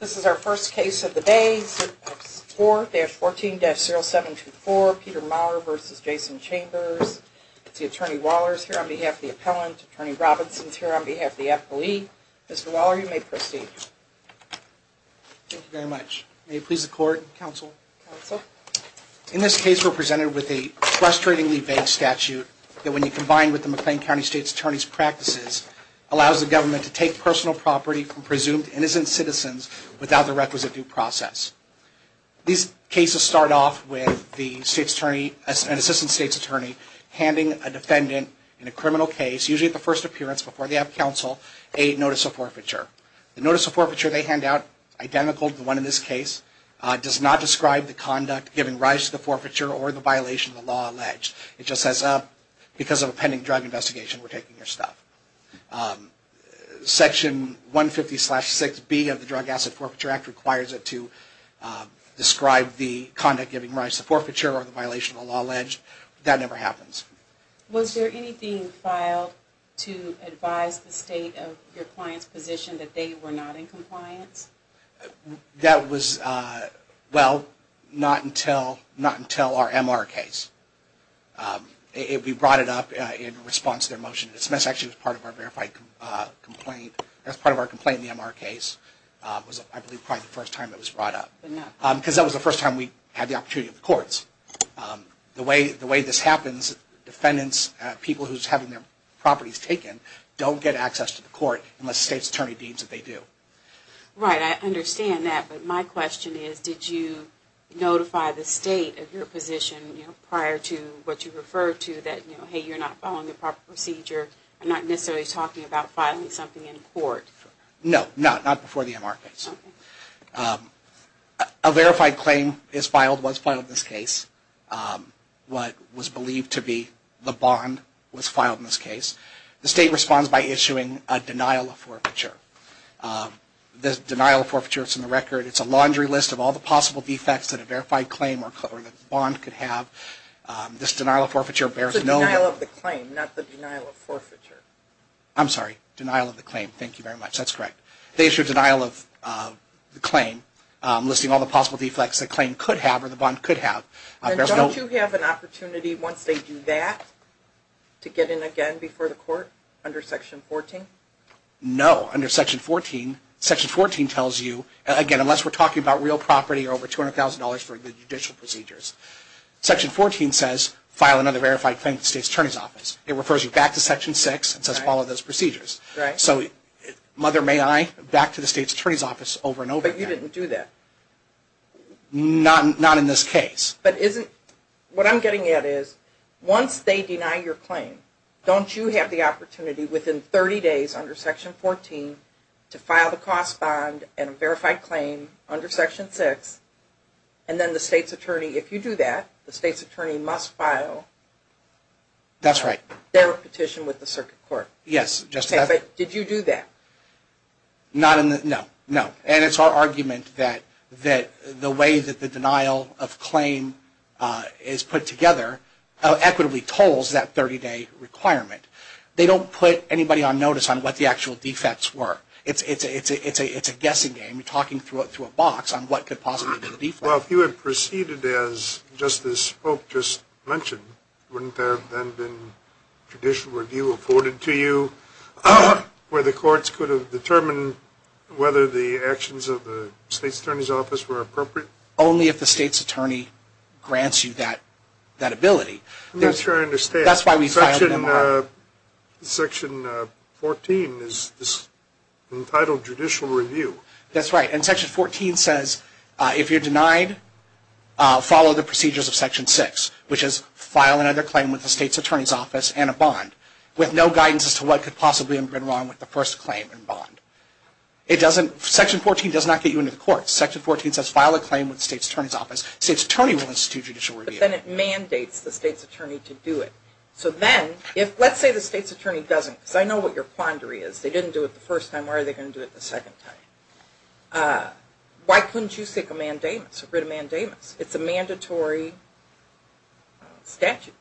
This is our first case of the day, 4-14-0724, Peter Maurer v. Jason Chambers. Attorney Waller is here on behalf of the appellant. Attorney Robinson is here on behalf of the appellee. Mr. Waller, you may proceed. Thank you very much. May it please the court, counsel. In this case, we're presented with a frustratingly vague statute that when you combine with the McLean County State's Attorney's Practices allows the government to take personal property from presumed innocent citizens without the requisite due process. These cases start off with the State's Attorney, an Assistant State's Attorney, handing a defendant in a criminal case, usually at the first appearance before they have counsel, a notice of forfeiture. The notice of forfeiture they hand out, identical to the one in this case, does not describe the conduct giving rise to the forfeiture or the violation of the law alleged. It just says, because of a pending drug investigation, we're taking your stuff. Section 150-6B of the Drug Asset Forfeiture Act requires it to describe the conduct giving rise to the forfeiture or the violation of the law alleged. That never happens. Was there anything filed to advise the State of your client's position that they were not in compliance? That was, well, not until our MR case. We brought it up in response to their motion. It was actually part of our verified complaint. That was part of our complaint in the MR case. It was, I believe, probably the first time it was brought up. Because that was the first time we had the opportunity of the courts. The way this happens, defendants, people who are having their properties taken, don't get access to the court unless the State's Attorney deems that they do. Right, I understand that. But my question is, did you notify the State of your position prior to what you referred to, that, hey, you're not following the proper procedure? I'm not necessarily talking about filing something in court. No, not before the MR case. A verified claim is filed, was filed in this case. What was believed to be the bond was filed in this case. The State responds by issuing a denial of forfeiture. The denial of forfeiture is in the record. It's a laundry list of all the possible defects that a verified claim or bond could have. This denial of forfeiture bears no... It's a denial of the claim, not the denial of forfeiture. I'm sorry, denial of the claim. Thank you very much. That's correct. They issue a denial of the claim, listing all the possible defects the claim could have or the bond could have. And don't you have an opportunity, once they do that, to get in again before the court under Section 14? No. Under Section 14, Section 14 tells you, again, unless we're talking about real property or over $200,000 for judicial procedures, Section 14 says, file another verified claim to the State's Attorney's Office. It refers you back to Section 6 and says, follow those procedures. Right. So, mother may I, back to the State's Attorney's Office over and over again. But you didn't do that. Not in this case. But isn't... What I'm getting at is, once they deny your claim, don't you have the opportunity within 30 days under Section 14 to file the cost bond and a verified claim under Section 6? And then the State's Attorney, if you do that, the State's Attorney must file... That's right. ...their petition with the circuit court. Yes, just to have... Okay, but did you do that? Not in the... No, no. And it's our argument that the way that the denial of claim is put together equitably tolls that 30-day requirement. They don't put anybody on notice on what the actual defects were. It's a guessing game. You're talking through a box on what could possibly be a defect. Well, if you had proceeded as Justice Spoke just mentioned, wouldn't there have then been judicial review afforded to you where the courts could have determined whether the actions of the State's Attorney's Office were appropriate? Only if the State's Attorney grants you that ability. I'm not sure I understand. That's why we filed an MRR. Section 14 is entitled judicial review. That's right. And Section 14 says, if you're denied, follow the procedures of Section 6, which is file another claim with the State's Attorney's Office and a bond with no guidance as to what could possibly have been wrong with the first claim and bond. Section 14 does not get you into the courts. Section 14 says file a claim with the State's Attorney's Office. State's Attorney will institute judicial review. But then it mandates the State's Attorney to do it. So then, let's say the State's Attorney doesn't, because I know what your quandary is. They didn't do it the first time. Why are they going to do it the second time? Why couldn't you seek a mandamus, a writ of mandamus? It's a mandatory statute.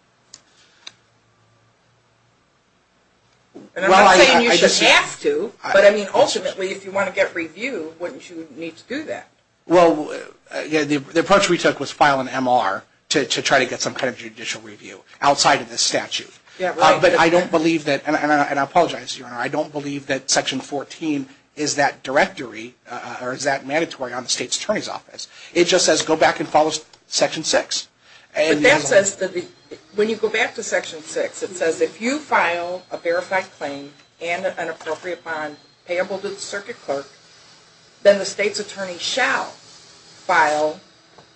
And I'm not saying you should have to, but I mean, ultimately, if you want to get review, wouldn't you need to do that? Well, the approach we took was file an MRR to try to get some kind of judicial review outside of the statute. Yeah, right. But I don't believe that, and I apologize, Your Honor, I don't believe that Section 14 It just says go back and follow Section 6. But that says, when you go back to Section 6, it says if you file a verified claim and an appropriate bond payable to the circuit clerk, then the State's Attorney shall file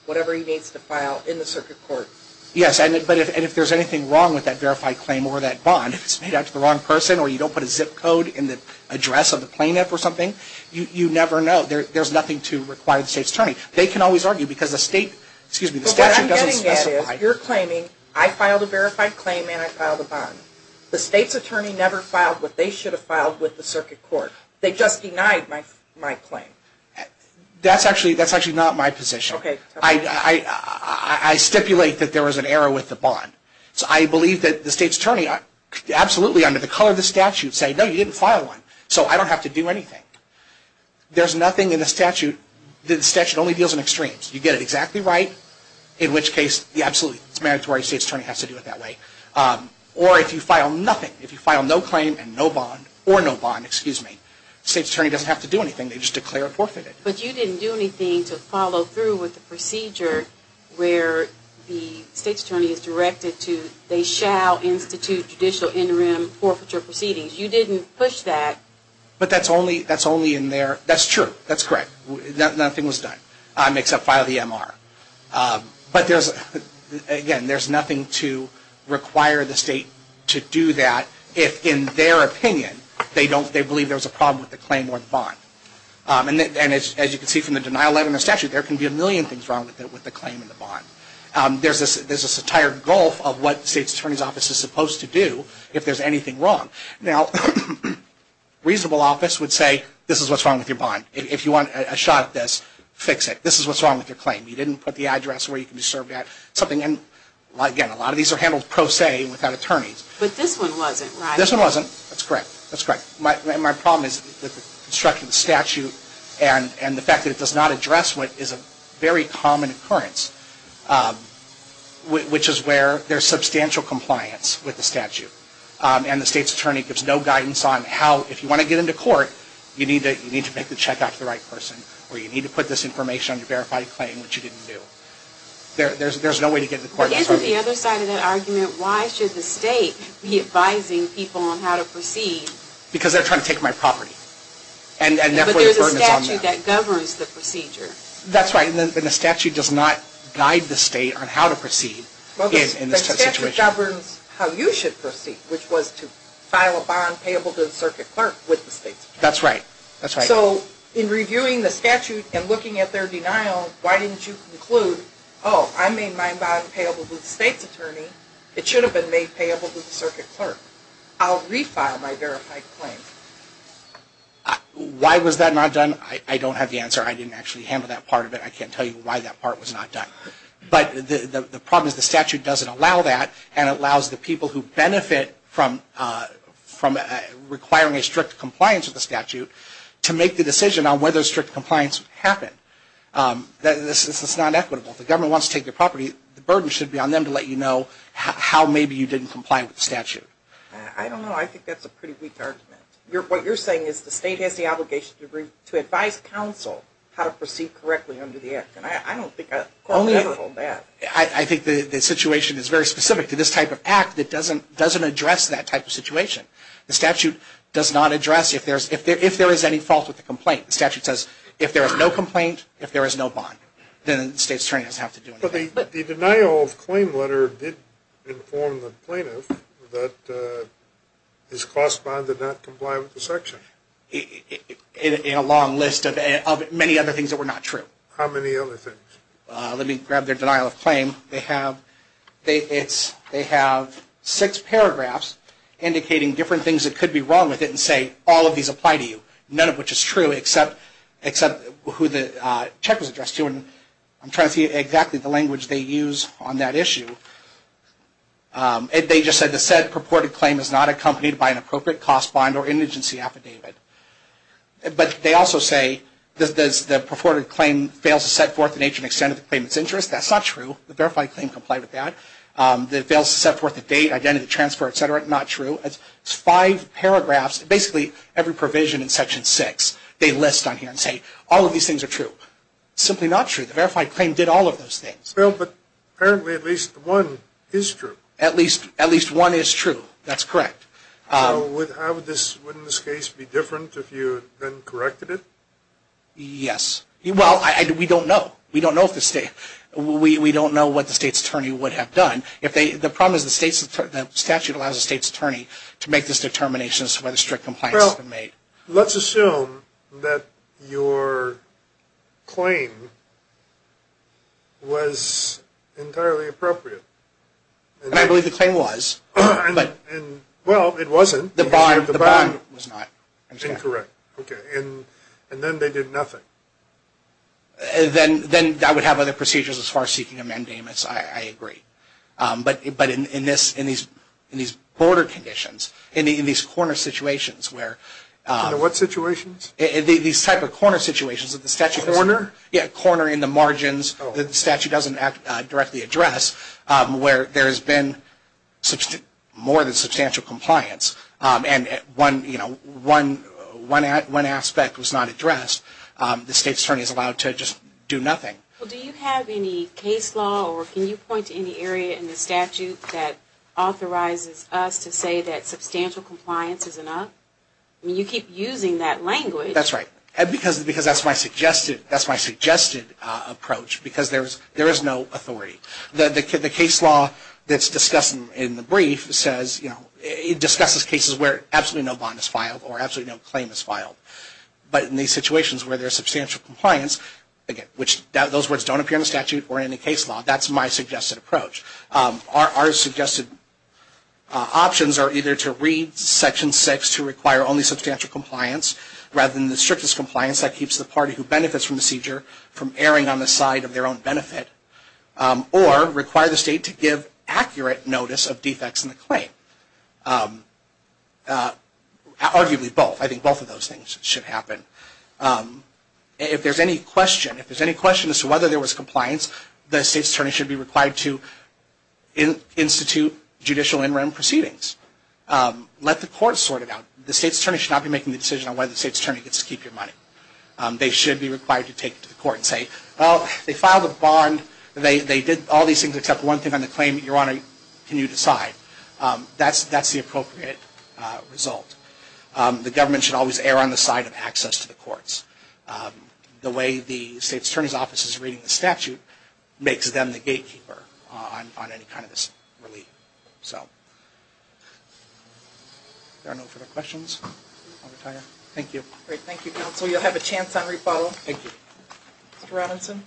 whatever he needs to file in the circuit court. Yes, but if there's anything wrong with that verified claim or that bond, if it's made out to the wrong person or you don't put a zip code in the address of the plaintiff or something, you never know. There's nothing to require the State's Attorney. They can always argue because the statute doesn't specify. But what I'm getting at is, you're claiming, I filed a verified claim and I filed a bond. The State's Attorney never filed what they should have filed with the circuit court. They just denied my claim. That's actually not my position. I stipulate that there was an error with the bond. So I believe that the State's Attorney, absolutely, under the color of the statute, say, no, you didn't file one, so I don't have to do anything. There's nothing in the statute. The statute only deals in extremes. You get it exactly right, in which case the absolute mandatory State's Attorney has to do it that way. Or if you file nothing, if you file no claim and no bond, or no bond, excuse me, the State's Attorney doesn't have to do anything. They just declare it forfeited. But you didn't do anything to follow through with the procedure where the State's Attorney is directed to, they shall institute judicial interim forfeiture proceedings. You didn't push that. But that's only in their, that's true, that's correct. Nothing was done except file the MR. But there's, again, there's nothing to require the State to do that if, in their opinion, they believe there was a problem with the claim or the bond. And as you can see from the denial letter and the statute, there can be a million things wrong with the claim and the bond. There's this entire gulf of what the State's Attorney's Office is supposed to do if there's anything wrong. Now, reasonable office would say this is what's wrong with your bond. If you want a shot at this, fix it. This is what's wrong with your claim. You didn't put the address where you can be served at. Again, a lot of these are handled pro se without attorneys. But this one wasn't, right? This one wasn't. That's correct. That's correct. My problem is the structure of the statute and the fact that it does not address what is a very common occurrence, which is where there's substantial compliance with the statute. And the State's Attorney gives no guidance on how, if you want to get into court, you need to make the check out to the right person, or you need to put this information on your verified claim, which you didn't do. There's no way to get into court. Isn't the other side of that argument, why should the State be advising people on how to proceed? Because they're trying to take my property. But there's a statute that governs the procedure. That's right. And the statute does not guide the State on how to proceed in this type of situation. It governs how you should proceed, which was to file a bond payable to the circuit clerk with the State's Attorney. That's right. So in reviewing the statute and looking at their denial, why didn't you conclude, oh, I made my bond payable to the State's Attorney. It should have been made payable to the circuit clerk. I'll refile my verified claim. Why was that not done? I don't have the answer. I didn't actually handle that part of it. I can't tell you why that part was not done. But the problem is the statute doesn't allow that, and it allows the people who benefit from requiring a strict compliance with the statute to make the decision on whether strict compliance would happen. This is not equitable. If the government wants to take your property, the burden should be on them to let you know how maybe you didn't comply with the statute. I don't know. I think that's a pretty weak argument. What you're saying is the State has the obligation to advise counsel how to proceed correctly under the Act. I think the situation is very specific to this type of Act. It doesn't address that type of situation. The statute does not address if there is any fault with the complaint. The statute says if there is no complaint, if there is no bond, then the State's Attorney doesn't have to do anything. But the denial of claim letter did inform the plaintiff that his cost bond did not comply with the section. In a long list of many other things that were not true. How many other things? Let me grab the denial of claim. They have six paragraphs indicating different things that could be wrong with it and say all of these apply to you, none of which is true except who the check was addressed to. I'm trying to see exactly the language they use on that issue. They just said the said purported claim is not accompanied by an appropriate cost bond or indigency affidavit. But they also say the purported claim fails to set forth the nature and extent of the claimant's interest. That's not true. The verified claim complied with that. It fails to set forth the date, identity, transfer, etc. Not true. It's five paragraphs. Basically, every provision in Section 6 they list on here and say all of these things are true. Simply not true. The verified claim did all of those things. Well, but apparently at least one is true. At least one is true. That's correct. So wouldn't this case be different if you then corrected it? Yes. Well, we don't know. We don't know what the state's attorney would have done. The problem is the statute allows the state's attorney to make this determination as to whether strict compliance has been made. Well, let's assume that your claim was entirely appropriate. I believe the claim was. Well, it wasn't. The bond was not. Incorrect. Okay. And then they did nothing. Then that would have other procedures as far as seeking amendments. I agree. But in these border conditions, in these corner situations where – In what situations? These type of corner situations that the statute doesn't – Corner? Yeah, corner in the margins that the statute doesn't directly address where there has been more than substantial compliance and one aspect was not addressed, the state's attorney is allowed to just do nothing. Well, do you have any case law or can you point to any area in the statute that authorizes us to say that substantial compliance is enough? I mean, you keep using that language. That's right. Because that's my suggested approach because there is no authority. The case law that's discussed in the brief says – it discusses cases where absolutely no bond is filed or absolutely no claim is filed. But in these situations where there is substantial compliance, which those words don't appear in the statute or any case law, that's my suggested approach. Our suggested options are either to read Section 6 to require only substantial compliance rather than the strictest compliance that keeps the party who benefits from the seizure from erring on the side of their own benefit or require the state to give accurate notice of defects in the claim. Arguably both. I think both of those things should happen. If there is any question as to whether there was compliance, the state's attorney should be required to institute judicial in-rem proceedings. Let the court sort it out. The state's attorney should not be making the decision on whether the state's attorney gets to keep your money. They should be required to take it to the court and say, well, they filed a bond. They did all these things except one thing on the claim. Your Honor, can you decide? That's the appropriate result. The government should always err on the side of access to the courts. The way the state's attorney's office is reading the statute makes them the gatekeeper on any kind of this relief. If there are no further questions, I'll retire. Thank you. Great. Thank you, counsel. You'll have a chance on re-follow. Thank you. Mr. Robinson.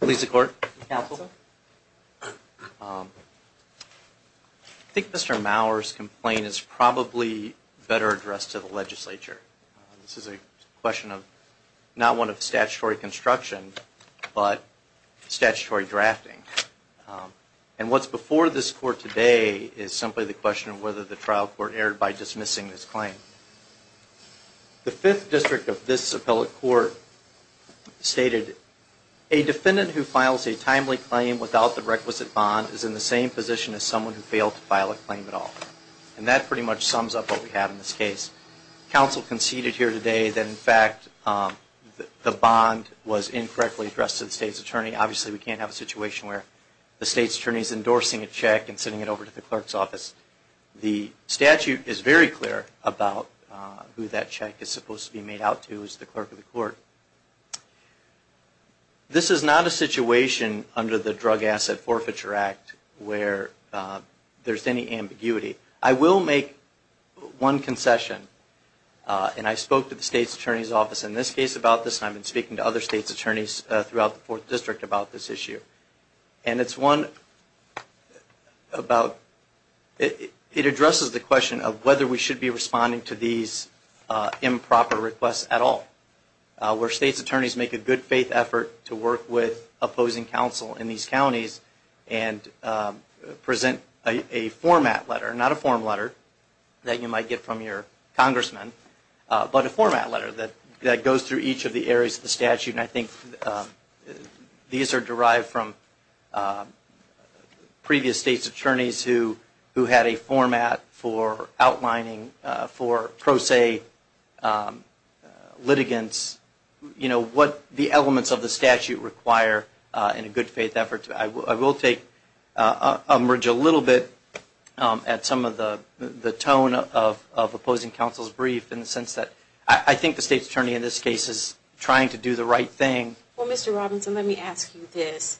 Please, the court. Counsel. This is a question of not one of statutory construction, but statutory drafting. And what's before this court today is simply the question of whether the trial court erred by dismissing this claim. The Fifth District of this appellate court stated, a defendant who files a timely claim without the requisite bond is in the same position as someone who failed to file a claim at all. And that pretty much sums up what we have in this case. Counsel conceded here today that, in fact, the bond was incorrectly addressed to the state's attorney. Obviously, we can't have a situation where the state's attorney is endorsing a check and sending it over to the clerk's office. The statute is very clear about who that check is supposed to be made out to. It's the clerk of the court. This is not a situation under the Drug Asset Forfeiture Act where there's any ambiguity. I will make one concession. And I spoke to the state's attorney's office in this case about this, and I've been speaking to other state's attorneys throughout the Fourth District about this issue. And it's one about – it addresses the question of whether we should be responding to these improper requests at all, where state's attorneys make a good-faith effort to work with opposing counsel in these counties and present a format letter, not a form letter that you might get from your congressman, but a format letter that goes through each of the areas of the statute. And I think these are derived from previous state's attorneys who had a format for outlining for pro se litigants what the elements of the I will take a little bit at some of the tone of opposing counsel's brief in the sense that I think the state's attorney in this case is trying to do the right thing. Well, Mr. Robinson, let me ask you this.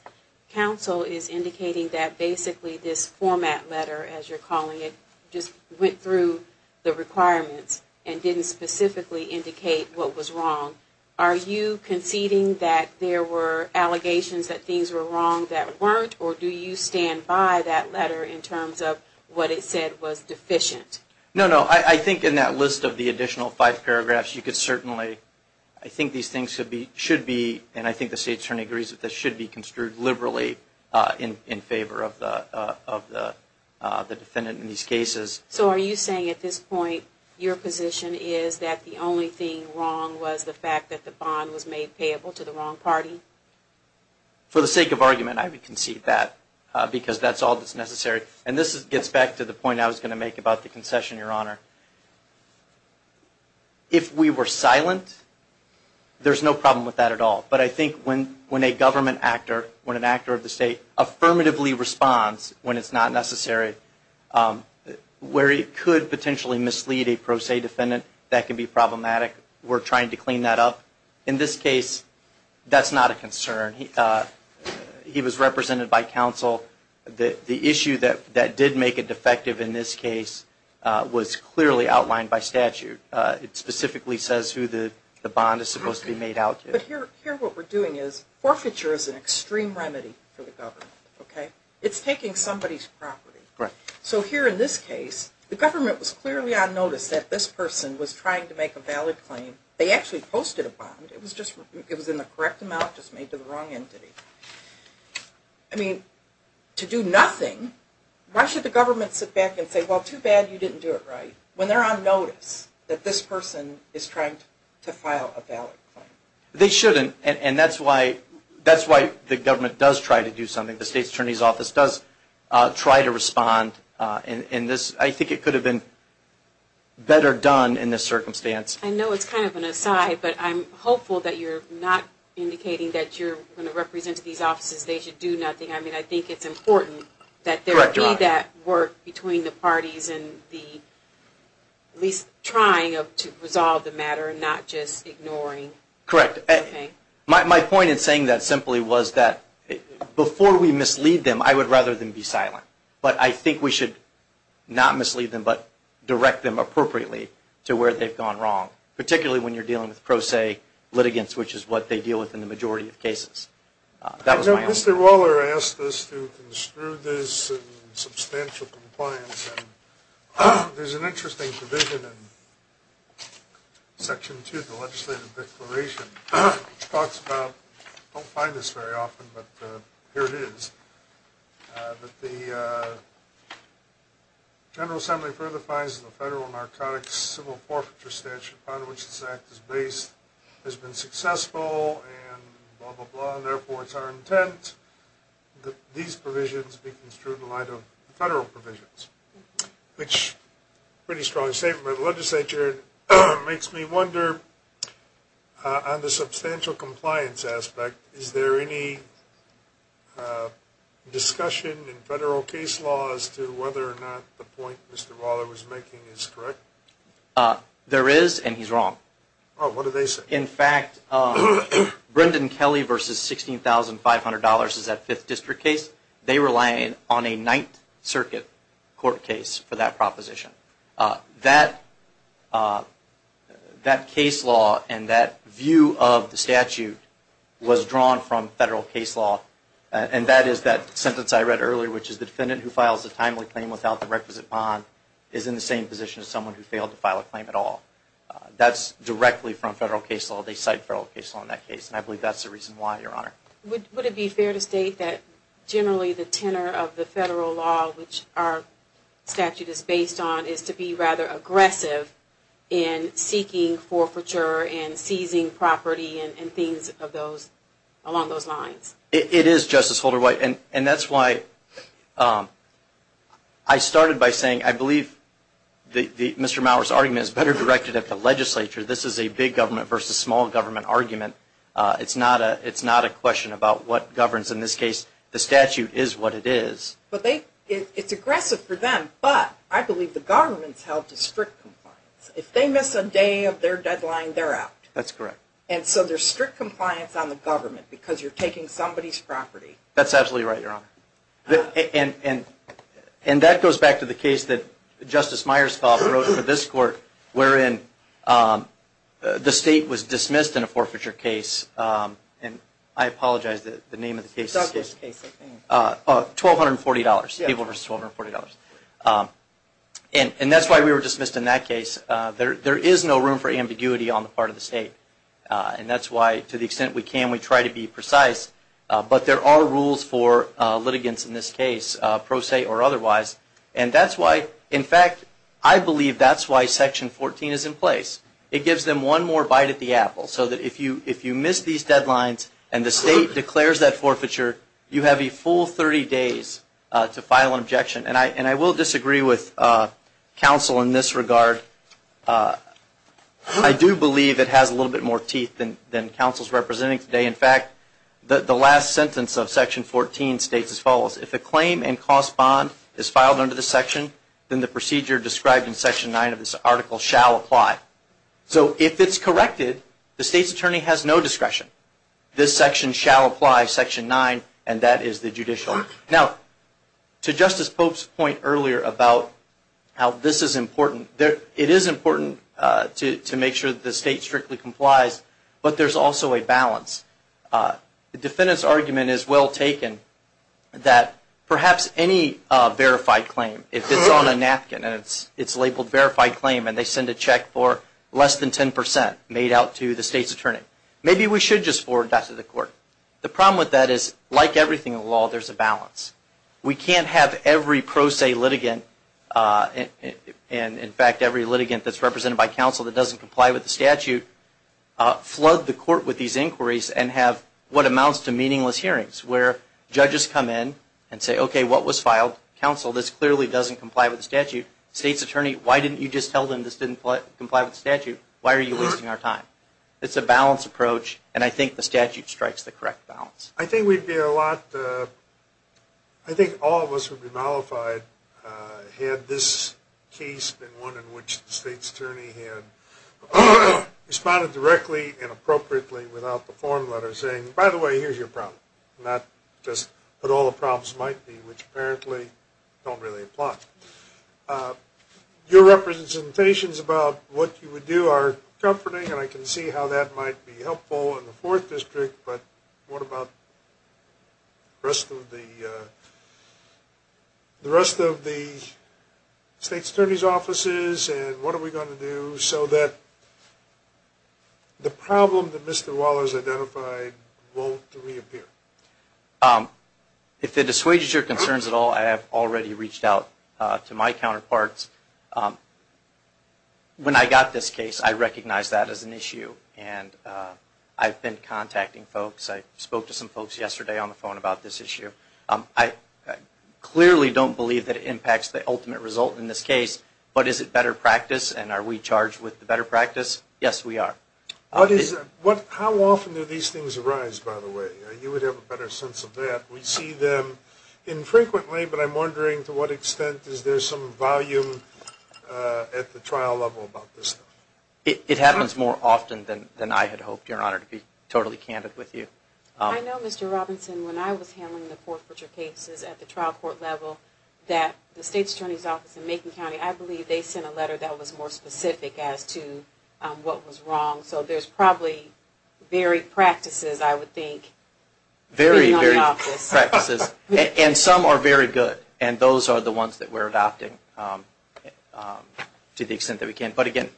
Counsel is indicating that basically this format letter, as you're calling it, just went through the requirements and didn't specifically indicate what was wrong. Are you conceding that there were allegations that things were wrong that weren't, or do you stand by that letter in terms of what it said was deficient? No, no. I think in that list of the additional five paragraphs, you could certainly – I think these things should be, and I think the state's attorney agrees that this should be construed liberally in favor of the defendant in these cases. So are you saying at this point your position is that the only thing wrong was the fact that the bond was made payable to the wrong party? For the sake of argument, I would concede that, because that's all that's necessary. And this gets back to the point I was going to make about the concession, Your Honor. If we were silent, there's no problem with that at all. But I think when a government actor, when an actor of the state, affirmatively responds when it's not necessary, where it could potentially mislead a pro se defendant, that can be problematic. We're trying to clean that up. In this case, that's not a concern. He was represented by counsel. The issue that did make it defective in this case was clearly outlined by statute. It specifically says who the bond is supposed to be made out to. But here what we're doing is forfeiture is an extreme remedy for the government. It's taking somebody's property. So here in this case, the government was clearly on notice that this person was trying to make a valid claim. They actually posted a bond. It was in the correct amount, just made to the wrong entity. I mean, to do nothing, why should the government sit back and say, well, too bad you didn't do it right, when they're on notice that this person is trying to file a valid claim? They shouldn't, and that's why the government does try to do something. The State's Attorney's Office does try to respond. I think it could have been better done in this circumstance. I know it's kind of an aside, but I'm hopeful that you're not indicating that you're going to represent these offices. They should do nothing. I mean, I think it's important that there be that work between the parties and at least trying to resolve the matter and not just ignoring. Correct. My point in saying that simply was that before we mislead them, I would rather them be silent. But I think we should not mislead them, but direct them appropriately to where they've gone wrong, particularly when you're dealing with pro se litigants, which is what they deal with in the majority of cases. I know Mr. Waller asked us to construe this in substantial compliance, and there's an interesting provision in Section 2 of the Legislative Declaration which talks about, I don't find this very often, but here it is. But the General Assembly further finds that the Federal Narcotics Civil Forfeiture Statute upon which this Act is based has been successful and blah, blah, blah, and therefore it's our intent that these provisions be construed in light of federal provisions, which is a pretty strong statement by the legislature. It makes me wonder, on the substantial compliance aspect, is there any discussion in federal case law as to whether or not the point Mr. Waller was making is correct? There is, and he's wrong. Oh, what do they say? In fact, Brendan Kelly v. $16,500 is that 5th District case. They relied on a 9th Circuit court case for that proposition. That case law and that view of the statute was drawn from federal case law, and that is that sentence I read earlier, which is the defendant who files a timely claim without the requisite bond is in the same position as someone who failed to file a claim at all. That's directly from federal case law. They cite federal case law in that case, and I believe that's the reason why, Your Honor. Would it be fair to state that generally the tenor of the federal law which our statute is based on is to be rather aggressive in seeking forfeiture and seizing property and things along those lines? It is, Justice Holder-White, and that's why I started by saying I believe Mr. Mauer's argument is better directed at the legislature. This is a big government versus small government argument. It's not a question about what governs in this case. The statute is what it is. It's aggressive for them, but I believe the government's held to strict compliance. If they miss a day of their deadline, they're out. That's correct. And so there's strict compliance on the government because you're taking somebody's property. That's absolutely right, Your Honor. And that goes back to the case that Justice Myerscough wrote for this court wherein the state was dismissed in a forfeiture case, and I apologize, the name of the case. Douglas case, I think. $1,240, people versus $1,240. And that's why we were dismissed in that case. There is no room for ambiguity on the part of the state, and that's why to the extent we can, we try to be precise, but there are rules for litigants in this case, pro se or otherwise, and that's why, in fact, I believe that's why Section 14 is in place. It gives them one more bite at the apple so that if you miss these deadlines and the state declares that forfeiture, you have a full 30 days to file an objection. And I will disagree with counsel in this regard. I do believe it has a little bit more teeth than counsel is representing today. In fact, the last sentence of Section 14 states as follows, if a claim and cost bond is filed under this section, then the procedure described in Section 9 of this article shall apply. So if it's corrected, the state's attorney has no discretion. This section shall apply, Section 9, and that is the judicial. Now, to Justice Pope's point earlier about how this is important, it is important to make sure that the state strictly complies, but there's also a balance. The defendant's argument is well taken that perhaps any verified claim, if it's on a napkin and it's labeled verified claim and they send a check for less than 10 percent made out to the state's attorney, maybe we should just forward that to the court. The problem with that is, like everything in the law, there's a balance. We can't have every pro se litigant, and in fact every litigant that's represented by counsel that doesn't comply with the statute, flood the court with these inquiries and have what amounts to meaningless hearings where judges come in and say, okay, what was filed? Counsel, this clearly doesn't comply with the statute. State's attorney, why didn't you just tell them this didn't comply with the statute? Why are you wasting our time? It's a balanced approach, and I think the statute strikes the correct balance. I think we'd be a lot, I think all of us would be mollified had this case been one in which the state's attorney had responded directly and appropriately without the form letter saying, by the way, here's your problem, not just what all the problems might be, which apparently don't really apply. Your representations about what you would do are comforting, and I can see how that might be helpful in the fourth district, but what about the rest of the state's attorney's offices and what are we going to do so that the problem that Mr. Waller has identified won't reappear? If it dissuades your concerns at all, I have already reached out to my counterparts. When I got this case, I recognized that as an issue, and I've been contacting folks. I spoke to some folks yesterday on the phone about this issue. I clearly don't believe that it impacts the ultimate result in this case, but is it better practice, and are we charged with the better practice? Yes, we are. How often do these things arise, by the way? You would have a better sense of that. We see them infrequently, but I'm wondering to what extent is there some volume at the trial level about this? It happens more often than I had hoped, Your Honor, to be totally candid with you. I know, Mr. Robinson, when I was handling the Fort Pritchard cases at the trial court level, that the state's attorney's office in Macon County, I believe they sent a letter that was more specific as to what was wrong, so there's probably varied practices, I would think. Varied practices, and some are very good, and those are the ones that we're adopting to the extent that we can. But again,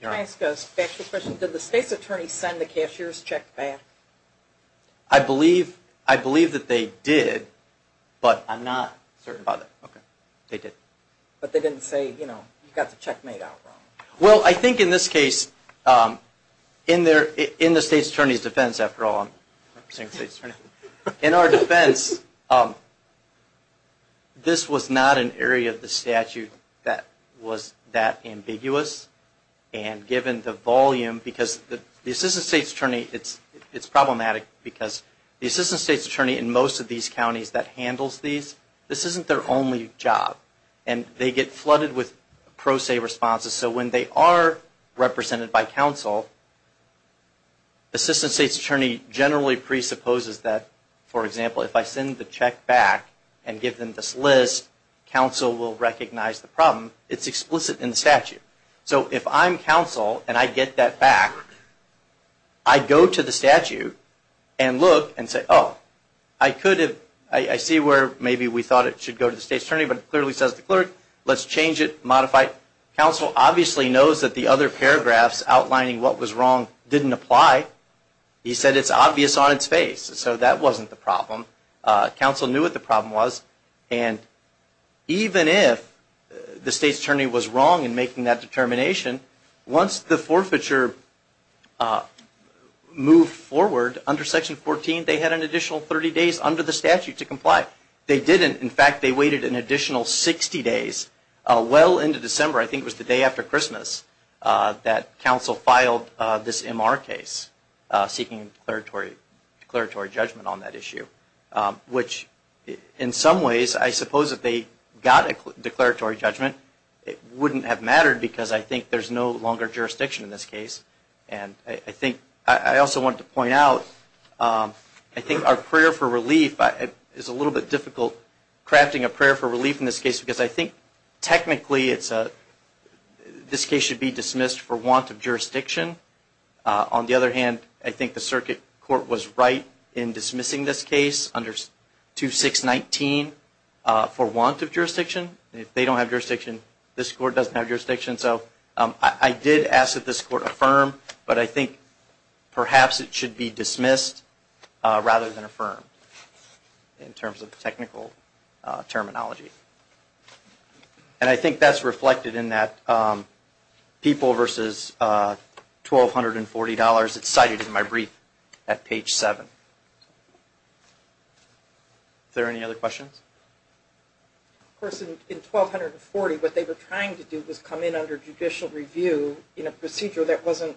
Your Honor. Can I ask a special question? Did the state's attorney send the cashier's check back? I believe that they did, but I'm not certain about that. But they didn't say, you know, you got the check made out wrong. Well, I think in this case, in the state's attorney's defense, after all, I'm representing the state's attorney. In our defense, this was not an area of the statute that was that ambiguous, and given the volume, because the assistant state's attorney, it's problematic, because the assistant state's attorney in most of these counties that handles these, this isn't their only job, and they get flooded with pro se responses. So when they are represented by counsel, the assistant state's attorney generally presupposes that, for example, if I send the check back and give them this list, counsel will recognize the problem. It's explicit in the statute. So if I'm counsel and I get that back, I go to the statute and look and say, oh, I could have, I see where maybe we thought it should go to the state's attorney, but it clearly says the clerk. Let's change it, modify it. Counsel obviously knows that the other paragraphs outlining what was wrong didn't apply. He said it's obvious on its face, so that wasn't the problem. Counsel knew what the problem was, and even if the state's attorney was wrong in making that determination, once the forfeiture moved forward under Section 14, they had an additional 30 days under the statute to comply. They didn't. In fact, they waited an additional 60 days. Well into December, I think it was the day after Christmas, that counsel filed this MR case, seeking a declaratory judgment on that issue, which in some ways, I suppose if they got a declaratory judgment, it wouldn't have mattered because I think there's no longer jurisdiction in this case. I also wanted to point out, I think our prayer for relief is a little bit difficult, crafting a prayer for relief in this case, because I think technically this case should be dismissed for want of jurisdiction. On the other hand, I think the circuit court was right in dismissing this case under 2619 for want of jurisdiction. If they don't have jurisdiction, this court doesn't have jurisdiction. So I did ask that this court affirm, but I think perhaps it should be dismissed rather than affirmed in terms of technical terminology. And I think that's reflected in that people versus $1,240. It's cited in my brief at page 7. Is there any other questions? Of course, in 1240, what they were trying to do was come in under judicial review in a procedure that wasn't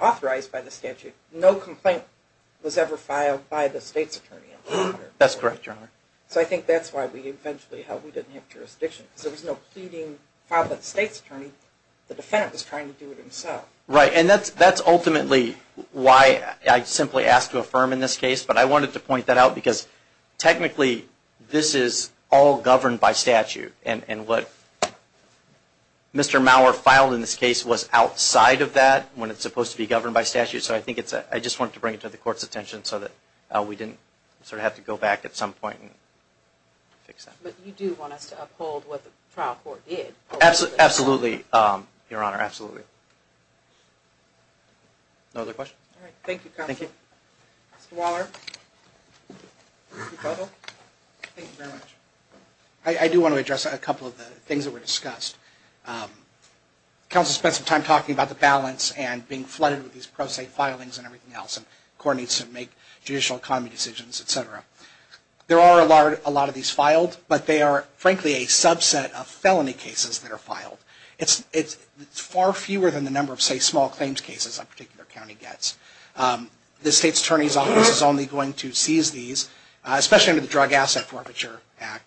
authorized by the statute. No complaint was ever filed by the state's attorney. That's correct, Your Honor. So I think that's why we eventually held we didn't have jurisdiction, because there was no pleading filed by the state's attorney. The defendant was trying to do it himself. Right. And that's ultimately why I simply asked to affirm in this case. But I wanted to point that out, because technically this is all governed by statute. And what Mr. Maurer filed in this case was outside of that when it's supposed to be governed by statute. So I just wanted to bring it to the court's attention so that we didn't sort of have to go back at some point and fix that. But you do want us to uphold what the trial court did. Absolutely, Your Honor, absolutely. No other questions? Thank you, Counsel. Thank you. Mr. Waller. Thank you very much. I do want to address a couple of the things that were discussed. Counsel spent some time talking about the balance and being flooded with these pro se filings and everything else, and court needs to make judicial economy decisions, et cetera. There are a lot of these filed, but they are, frankly, a subset of felony cases that are filed. It's far fewer than the number of, say, small claims cases a particular county gets. The state's attorney's office is only going to seize these, especially under the Drug Asset Forfeiture Act,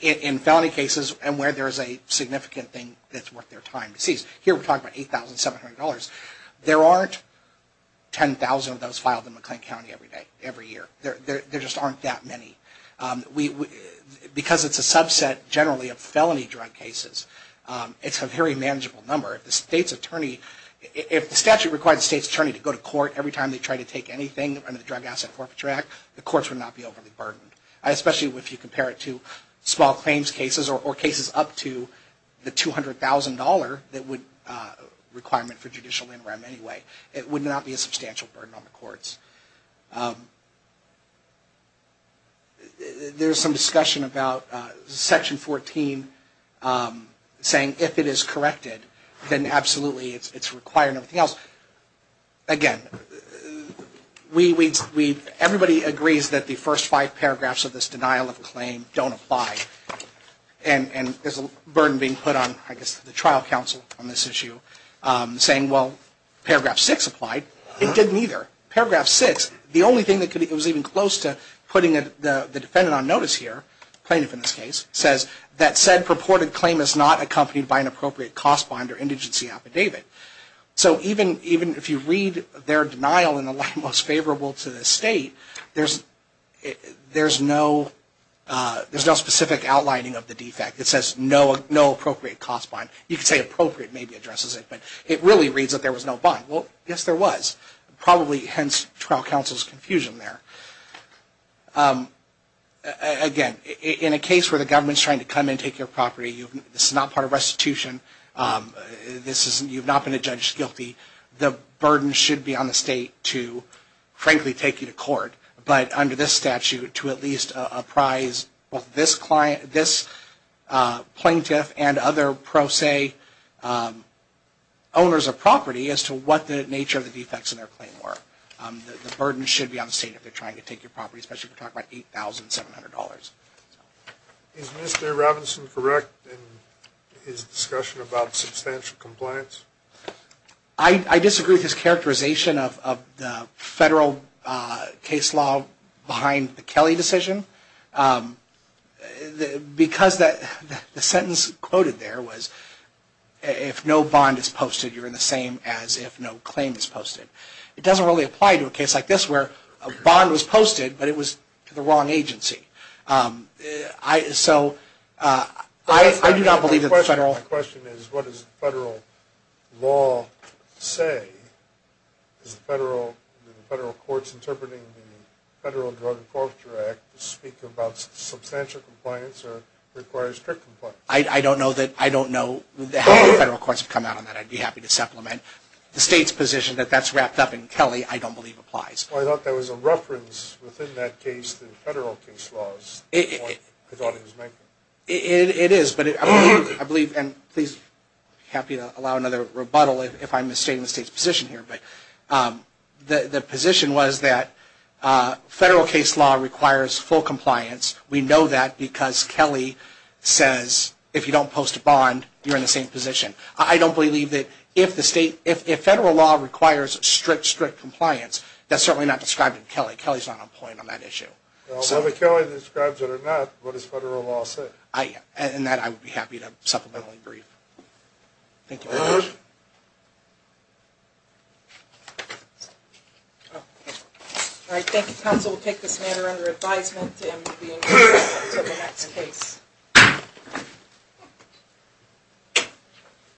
in felony cases and where there is a significant thing that's worth their time to seize. Here we're talking about $8,700. There aren't 10,000 of those filed in McLean County every day, every year. There just aren't that many. Because it's a subset, generally, of felony drug cases, it's a very manageable number. If the statute required the state's attorney to go to court every time they tried to take anything under the Drug Asset Forfeiture Act, the courts would not be overly burdened, especially if you compare it to small claims cases or cases up to the $200,000 requirement for judicial interim anyway. It would not be a substantial burden on the courts. There's some discussion about Section 14 saying if it is corrected, then absolutely it's required and everything else. Again, everybody agrees that the first five paragraphs of this denial of claim don't apply. And there's a burden being put on, I guess, the trial counsel on this issue saying, well, paragraph six applied. It didn't either. Paragraph six, the only thing that was even close to putting the defendant on notice here, plaintiff in this case, says that said purported claim is not accompanied by an appropriate cost bond or indigency affidavit. So even if you read their denial in the light most favorable to the state, there's no specific outlining of the defect. It says no appropriate cost bond. You could say appropriate maybe addresses it, but it really reads that there was no bond. Well, yes, there was. Probably hence trial counsel's confusion there. Again, in a case where the government is trying to come and take your property, this is not part of restitution, you've not been adjudged guilty, the burden should be on the state to, frankly, take you to court, but under this statute to at least apprise this plaintiff and other pro se owners of property as to what the nature of the defects in their claim were. The burden should be on the state if they're trying to take your property, especially if we're talking about $8,700. Is Mr. Robinson correct in his discussion about substantial compliance? I disagree with his characterization of the federal case law behind the Kelly decision. Because the sentence quoted there was if no bond is posted, you're in the same as if no claim is posted. It doesn't really apply to a case like this where a bond was posted, but it was to the wrong agency. So I do not believe that the federal. My question is what does the federal law say? Is the federal courts interpreting the Federal Drug Enforcer Act to speak about substantial compliance or require strict compliance? I don't know how the federal courts have come out on that. I'd be happy to supplement. The state's position that that's wrapped up in Kelly I don't believe applies. I thought there was a reference within that case to the federal case laws. I thought it was making. It is, but I believe, and I'd be happy to allow another rebuttal if I'm misstating the state's position here, but the position was that federal case law requires full compliance. We know that because Kelly says if you don't post a bond, you're in the same position. I don't believe that if the state, if federal law requires strict, strict compliance, that's certainly not described in Kelly. Kelly's not on point on that issue. So whether Kelly describes it or not, what does federal law say? And that I would be happy to supplement and brief. Thank you very much. All right. Thank you, counsel. We'll take this matter under advisement and move to the next case.